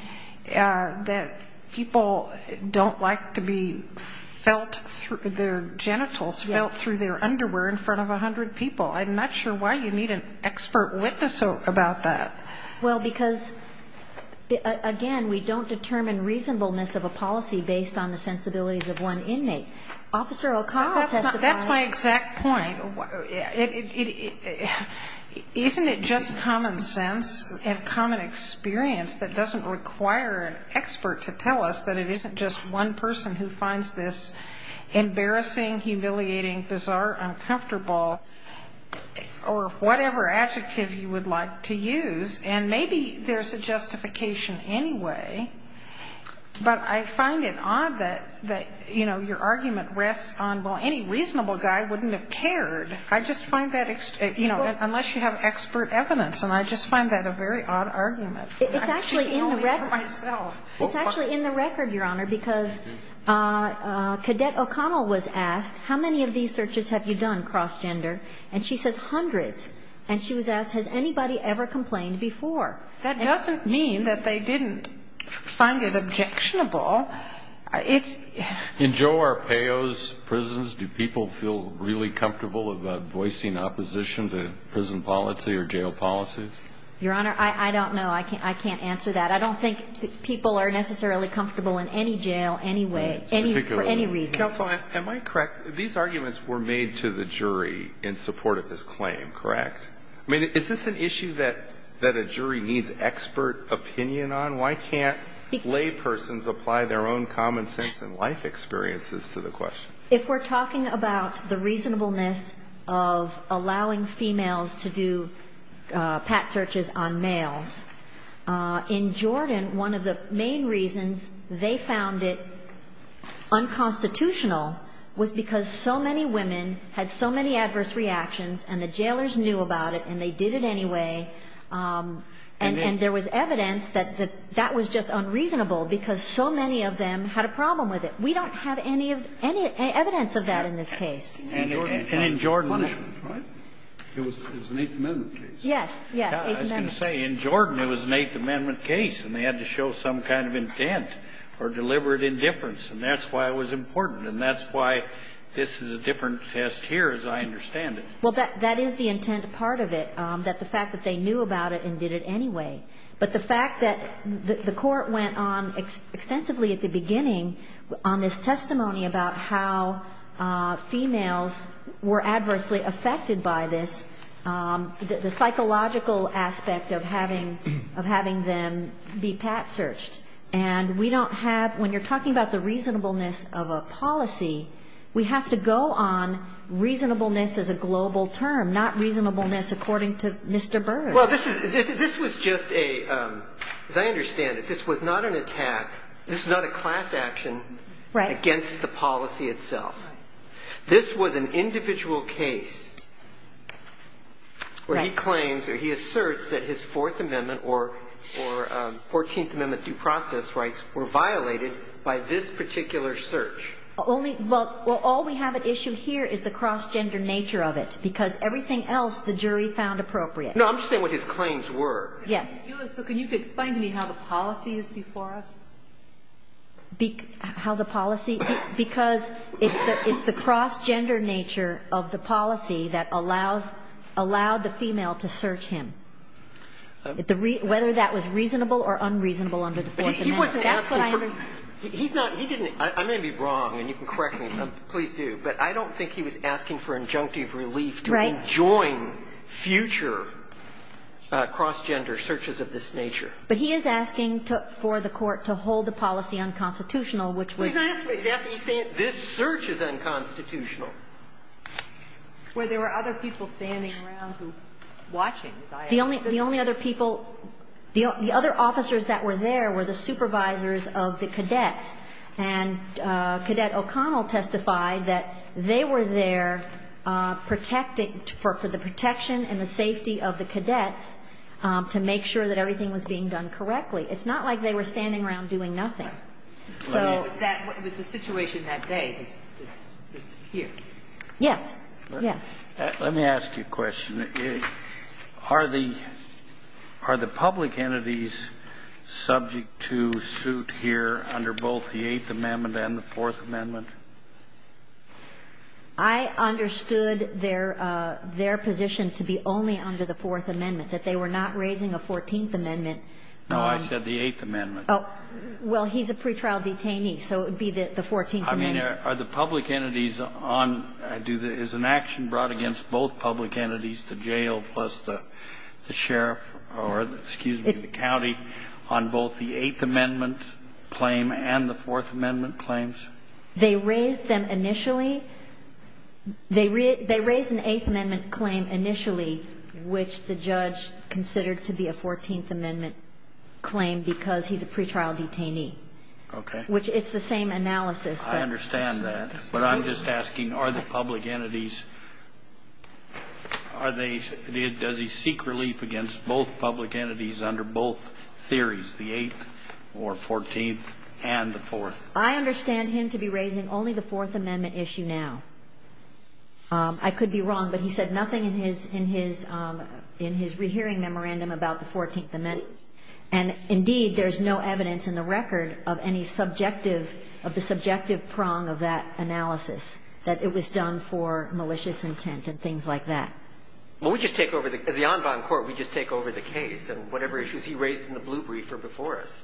that people don't like to be felt through their genitals, felt through their underwear in front of 100 people? I'm not sure why you need an expert witness about that. Well, because, again, we don't determine reasonableness of a policy based on the sensibilities of one inmate. Officer O'Connell testified – That's my exact point. Isn't it just common sense and common experience that doesn't require an expert to tell us that it isn't just one person who finds this embarrassing, humiliating, bizarre, uncomfortable, or whatever adjective you would like to use? And maybe there's a justification anyway, but I find it odd that, you know, your I just find that, you know, unless you have expert evidence, and I just find that a very odd argument. I speak only for myself. It's actually in the record, Your Honor, because Cadet O'Connell was asked, how many of these searches have you done cross-gender? And she says hundreds. And she was asked, has anybody ever complained before? That doesn't mean that they didn't find it objectionable. In Joe Arpaio's prisons, do people feel really comfortable about voicing opposition to prison policy or jail policy? Your Honor, I don't know. I can't answer that. I don't think people are necessarily comfortable in any jail anyway, for any reason. Counsel, am I correct? These arguments were made to the jury in support of his claim, correct? I mean, is this an issue that a jury needs expert opinion on? Why can't laypersons apply their own common sense and life experiences to the question? If we're talking about the reasonableness of allowing females to do pat searches on males, in Jordan, one of the main reasons they found it unconstitutional was because so many women had so many adverse reactions, and the jailers knew about it, and they did it anyway. And there was evidence that that was just unreasonable because so many of them had a problem with it. We don't have any evidence of that in this case. And in Jordan, it was an Eighth Amendment case. Yes, yes. I was going to say, in Jordan, it was an Eighth Amendment case, and they had to show some kind of intent or deliberate indifference, and that's why it was important, and that's why this is a different test here, as I understand it. Well, that is the intent part of it, that the fact that they knew about it and did it anyway. But the fact that the court went on extensively at the beginning on this testimony about how females were adversely affected by this, the psychological aspect of having them be pat searched. And we don't have, when you're talking about the reasonableness of a policy, we have to go on reasonableness as a global term, not reasonableness according to Mr. Byrd. Well, this was just a, as I understand it, this was not an attack. This is not a class action against the policy itself. This was an individual case where he claims or he asserts that his Fourth Amendment or Fourteenth Amendment due process rights were violated by this particular search. Only, well, all we have at issue here is the cross-gender nature of it, because everything else the jury found appropriate. No, I'm just saying what his claims were. Yes. So can you explain to me how the policy is before us? How the policy, because it's the cross-gender nature of the policy that allows, allowed the female to search him, whether that was reasonable or unreasonable under the Fourth Amendment. He wasn't asking for, he's not, he didn't, I may be wrong, and you can correct me, please do, but I don't think he was asking for injunctive relief to enjoin future cross-gender searches of this nature. But he is asking for the Court to hold the policy unconstitutional, which was. He's asking, yes, he's saying this search is unconstitutional. Well, there were other people standing around who, watching. The only other people, the other officers that were there were the supervisors of the cadets. And Cadet O'Connell testified that they were there protecting, for the protection and the safety of the cadets to make sure that everything was being done correctly. It's not like they were standing around doing nothing. So. It was the situation that day. It's here. Yes. Yes. Let me ask you a question. Are the public entities subject to suit here under both the Eighth Amendment and the Fourth Amendment? I understood their position to be only under the Fourth Amendment, that they were not raising a Fourteenth Amendment. No, I said the Eighth Amendment. Well, he's a pretrial detainee, so it would be the Fourteenth Amendment. I mean, are the public entities on, is an action brought against both public entities, the jail plus the sheriff or, excuse me, the county, on both the Eighth Amendment claim and the Fourth Amendment claims? They raised them initially. They raised an Eighth Amendment claim initially, which the judge considered to be a Fourteenth Amendment claim because he's a pretrial detainee. Okay. Which it's the same analysis, but. I understand that. But I'm just asking, are the public entities, are they, does he seek relief against both public entities under both theories, the Eighth or Fourteenth and the Fourth? I understand him to be raising only the Fourth Amendment issue now. I could be wrong, but he said nothing in his, in his, in his rehearing memorandum about the Fourteenth Amendment. And, indeed, there's no evidence in the record of any subjective, of the subjective prong of that analysis, that it was done for malicious intent and things like that. Well, we just take over the, as the Envine Court, we just take over the case and whatever issues he raised in the Blue Brief are before us.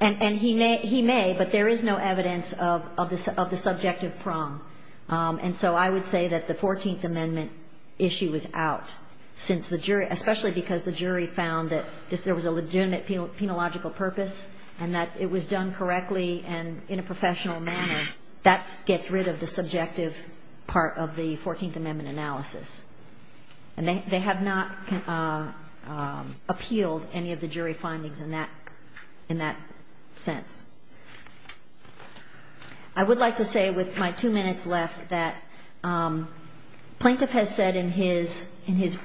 And he may, but there is no evidence of the subjective prong. And so I would say that the Fourteenth Amendment issue is out since the jury, especially because the jury found that there was a legitimate penological purpose and that it was done correctly and in a professional manner, that gets rid of the subjective part of the Fourteenth Amendment analysis. And they have not appealed any of the jury findings in that, in that sense. I would like to say with my two minutes left that Plaintiff has said in his, in his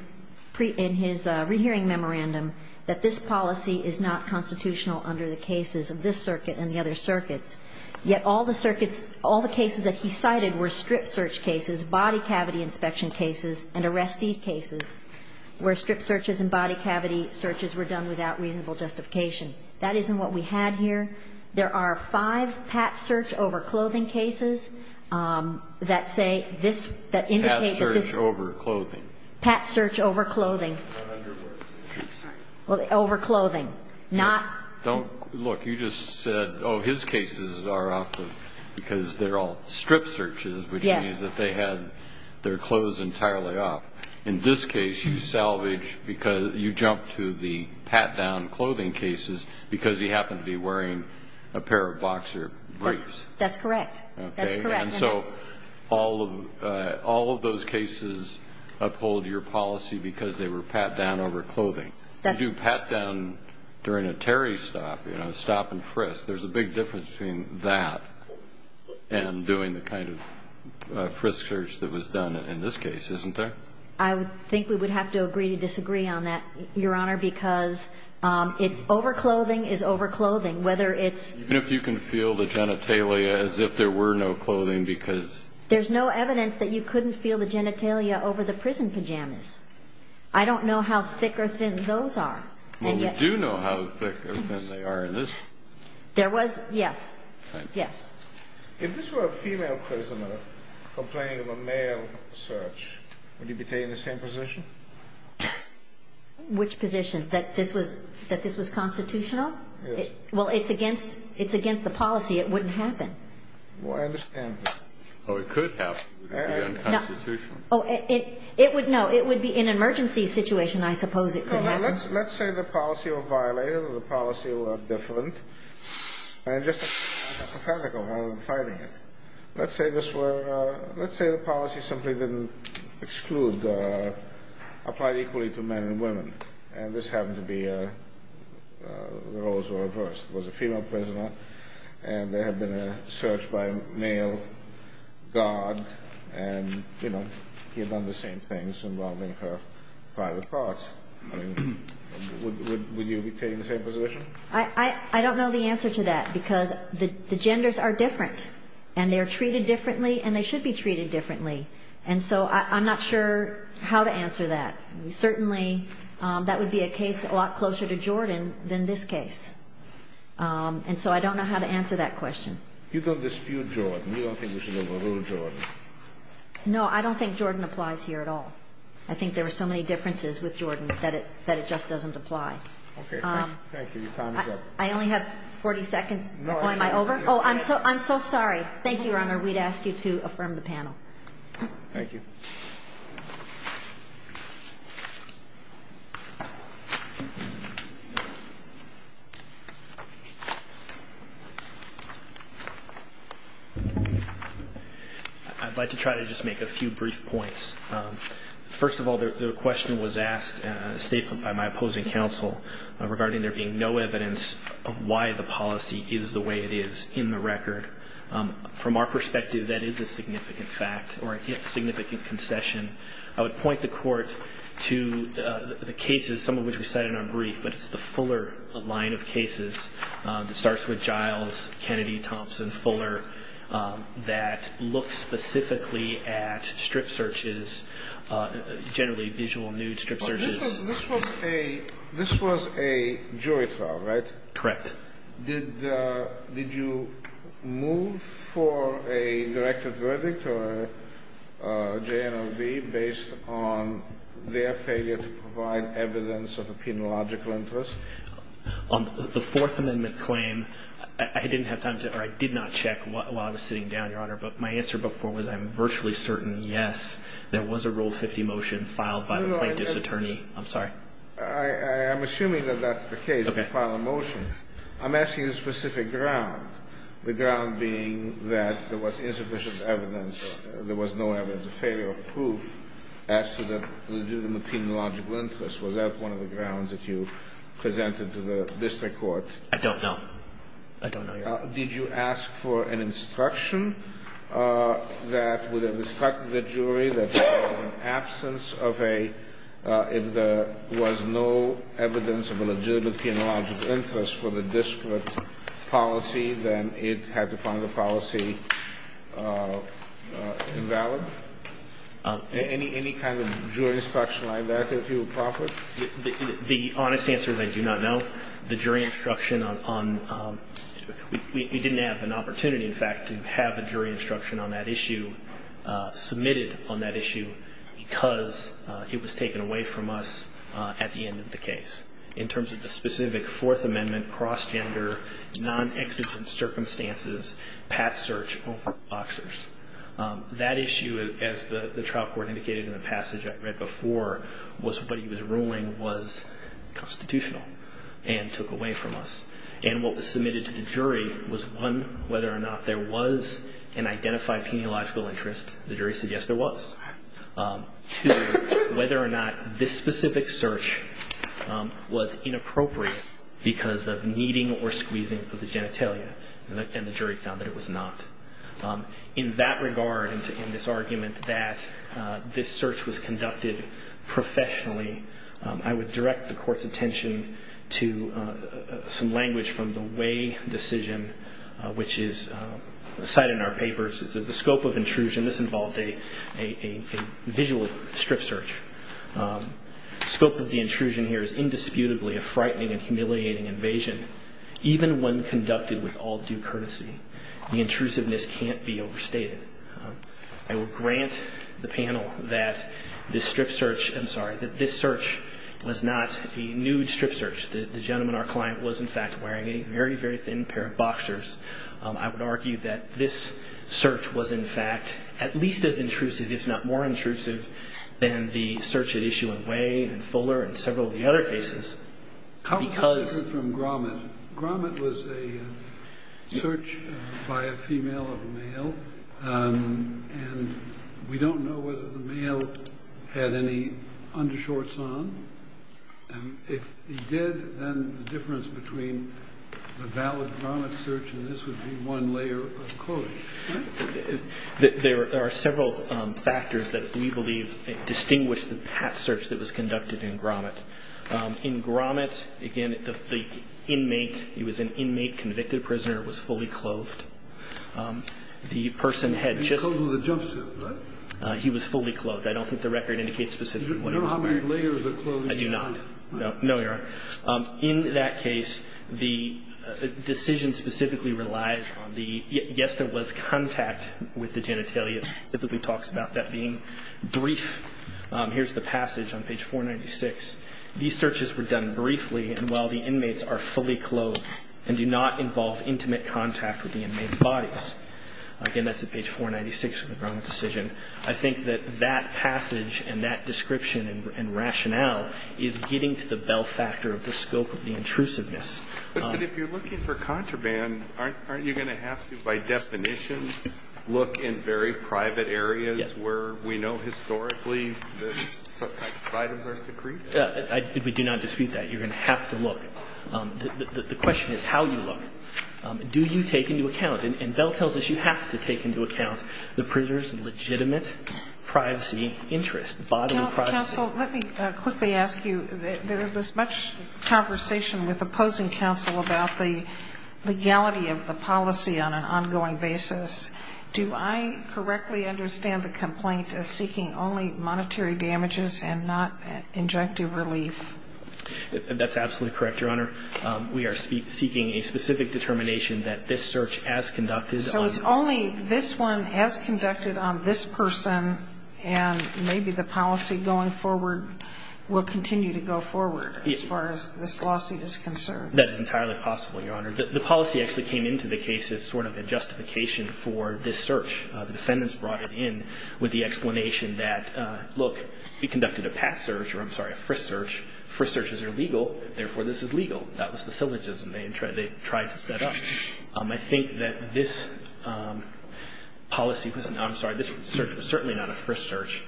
rehearing memorandum that this policy is not constitutional under the cases of this circuit and the other circuits. Yet all the circuits, all the cases that he cited were strip search cases, body cavity inspection cases, and arrestee cases, where strip searches and body cavity searches were done without reasonable justification. That isn't what we had here. There are five pat search over clothing cases that say this, that indicate that this Pat search over clothing. Pat search over clothing. Over clothing. Not. Don't. Look, you just said, oh, his cases are off of, because they're all strip searches. Yes. Which means that they had their clothes entirely off. In this case, you salvage because you jump to the pat down clothing cases because he happened to be wearing a pair of boxer briefs. That's correct. Okay. That's correct. And so all of, all of those cases uphold your policy because they were pat down over clothing. You do pat down during a Terry stop, you know, stop and frisk. There's a big difference between that and doing the kind of frisk search that was done in this case, isn't there? I think we would have to agree to disagree on that, Your Honor, because it's over clothing is over clothing. Whether it's. Even if you can feel the genitalia as if there were no clothing, because. There's no evidence that you couldn't feel the genitalia over the prison pajamas. I don't know how thick or thin those are. Well, we do know how thick or thin they are in this. There was. Yes. Yes. If this were a female prisoner complaining of a male search, would he be taking the same position? Which position that this was, that this was constitutional? Well, it's against, it's against the policy. It wouldn't happen. Well, I understand that. Oh, it could happen. It would be unconstitutional. Oh, it, it would, no. It would be in an emergency situation, I suppose it could happen. Let's, let's say the policy were violated or the policy were different and just hypothetical rather than fighting it. Let's say this were, let's say the policy simply didn't exclude, applied equally to men and women. And this happened to be a, the roles were reversed. It was a female prisoner and there had been a search by a male guard and, you know, he had done the same things involving her private parts. I mean, would, would you be taking the same position? I, I, I don't know the answer to that because the, the genders are different and they are treated differently and they should be treated differently. And so I, I'm not sure how to answer that. Certainly that would be a case a lot closer to Jordan than this case. And so I don't know how to answer that question. You don't dispute Jordan. You don't think we should overrule Jordan. No, I don't think Jordan applies here at all. I think there are so many differences with Jordan that it, that it just doesn't apply. Okay. Thank you. Your time is up. I only have 40 seconds. Oh, am I over? Oh, I'm so, I'm so sorry. Thank you, Your Honor. We'd ask you to affirm the panel. Thank you. I'd like to try to just make a few brief points. First of all, the, the question was asked in a statement by my opposing counsel regarding there being no evidence of why the policy is the way it is in the record. From our perspective, that is a significant fact or a significant concession. I would point the court to the cases, some of which we cited in our brief, but it's the Fuller line of cases. It starts with Giles, Kennedy, Thompson, Fuller, that look specifically at strip searches, generally visual nude strip searches. This was a, this was a jury trial, right? Correct. Did, did you move for a directive verdict or a JNLB based on their failure to provide evidence of a penological interest? On the Fourth Amendment claim, I didn't have time to, or I did not check while I was sitting down, Your Honor, but my answer before was I'm virtually certain, yes, there was a Rule 50 motion filed by the plaintiff's attorney. I'm sorry. I'm assuming that that's the case, the final motion. Okay. I'm asking the specific ground, the ground being that there was insufficient evidence, there was no evidence of failure of proof as to the penological interest. Was that one of the grounds that you presented to the district court? I don't know. I don't know, Your Honor. Did you ask for an instruction that would have instructed the jury that there was an issue, that there was no evidence of a legitimate penological interest for the district policy, then it had to find the policy invalid? Any kind of jury instruction like that that you would profit? The honest answer is I do not know. The jury instruction on, we didn't have an opportunity, in fact, to have a jury instruction on that issue submitted on that issue because it was taken away from us at the end of the case. In terms of the specific Fourth Amendment, cross-gender, non-exigent circumstances, path search over boxers. That issue, as the trial court indicated in the passage I read before, was what he was ruling was constitutional and took away from us. And what was submitted to the jury was, one, whether or not there was an identified penological interest. The jury said, yes, there was. Two, whether or not this specific search was inappropriate because of kneading or squeezing of the genitalia. And the jury found that it was not. In that regard, in this argument that this search was conducted professionally, I would direct the court's attention to some language from the Way decision, which is cited in our papers. The scope of intrusion, this involved a visual strip search. Scope of the intrusion here is indisputably a frightening and humiliating invasion. Even when conducted with all due courtesy, the intrusiveness can't be overstated. I will grant the panel that this search was not a nude strip search. The gentleman, our client, was, in fact, wearing a very, very thin pair of boxers. I would argue that this search was, in fact, at least as intrusive, if not more intrusive, than the search at issue in Way and Fuller and several of the other cases because this is from Gromit. Gromit was a search by a female of a male. And we don't know whether the male had any undershorts on. If he did, then the difference between the valid Gromit search and this would be one layer of clothing. There are several factors that we believe distinguish the past search that was conducted in Gromit. In Gromit, again, the inmate, he was an inmate, convicted prisoner, was fully clothed. He was fully clothed. I don't think the record indicates specifically what he was wearing. I do not. No, you're right. In that case, the decision specifically relies on the, yes, there was contact with the genitalia. It specifically talks about that being brief. Here's the passage on page 496. These searches were done briefly and while the inmates are fully clothed and do not involve intimate contact with the inmates' bodies. Again, that's at page 496 of the Gromit decision. I think that that passage and that description and rationale is getting to the bell factor of the scope of the intrusiveness. But if you're looking for contraband, aren't you going to have to, by definition, look in very private areas where we know historically that such items are secreted? We do not dispute that. You're going to have to look. The question is how you look. Do you take into account, and Bell tells us you have to take into account, the prisoner's legitimate privacy interest, bodily privacy. Counsel, let me quickly ask you. There was much conversation with opposing counsel about the legality of the policy on an ongoing basis. Do I correctly understand the complaint as seeking only monetary damages and not injective relief? That's absolutely correct, Your Honor. We are seeking a specific determination that this search as conducted on the person. And maybe the policy going forward will continue to go forward as far as this lawsuit is concerned. That is entirely possible, Your Honor. The policy actually came into the case as sort of a justification for this search. The defendants brought it in with the explanation that, look, we conducted a past search or, I'm sorry, a first search. First searches are legal, therefore this is legal. That was the syllogism they tried to set up. I think that this policy, I'm sorry, this search was certainly not a first search.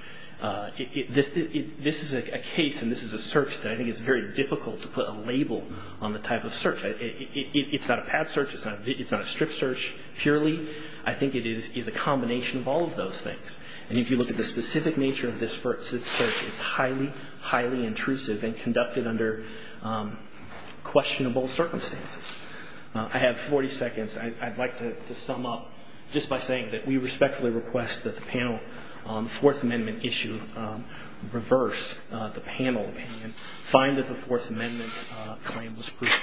This is a case and this is a search that I think is very difficult to put a label on the type of search. It's not a past search. It's not a strict search purely. I think it is a combination of all of those things. And if you look at the specific nature of this first search, it's highly, highly intrusive and conducted under questionable circumstances. I have 40 seconds. I'd like to sum up just by saying that we respectfully request that the panel on the Fourth Amendment issue reverse the panel opinion, find that the Fourth Amendment claim was proven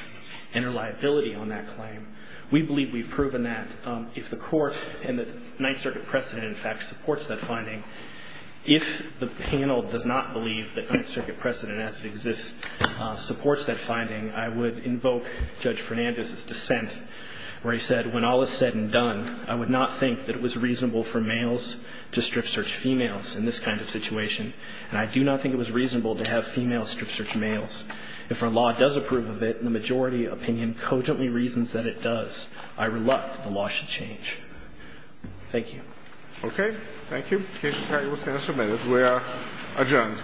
and enter liability on that claim. We believe we've proven that. If the court and the Ninth Circuit precedent, in fact, supports that finding, if the panel does not believe that the Ninth Circuit precedent as it exists supports that finding, I would invoke Judge Fernandez's dissent where he said, when all is said and done, I would not think that it was reasonable for males to strip search females in this kind of situation, and I do not think it was reasonable to have females strip search males. If our law does approve of it, and the majority opinion cogently reasons that it does, I reluct the law should change. Thank you. Roberts. Okay. Thank you. The case will finish in a minute. We are adjourned. Thank you.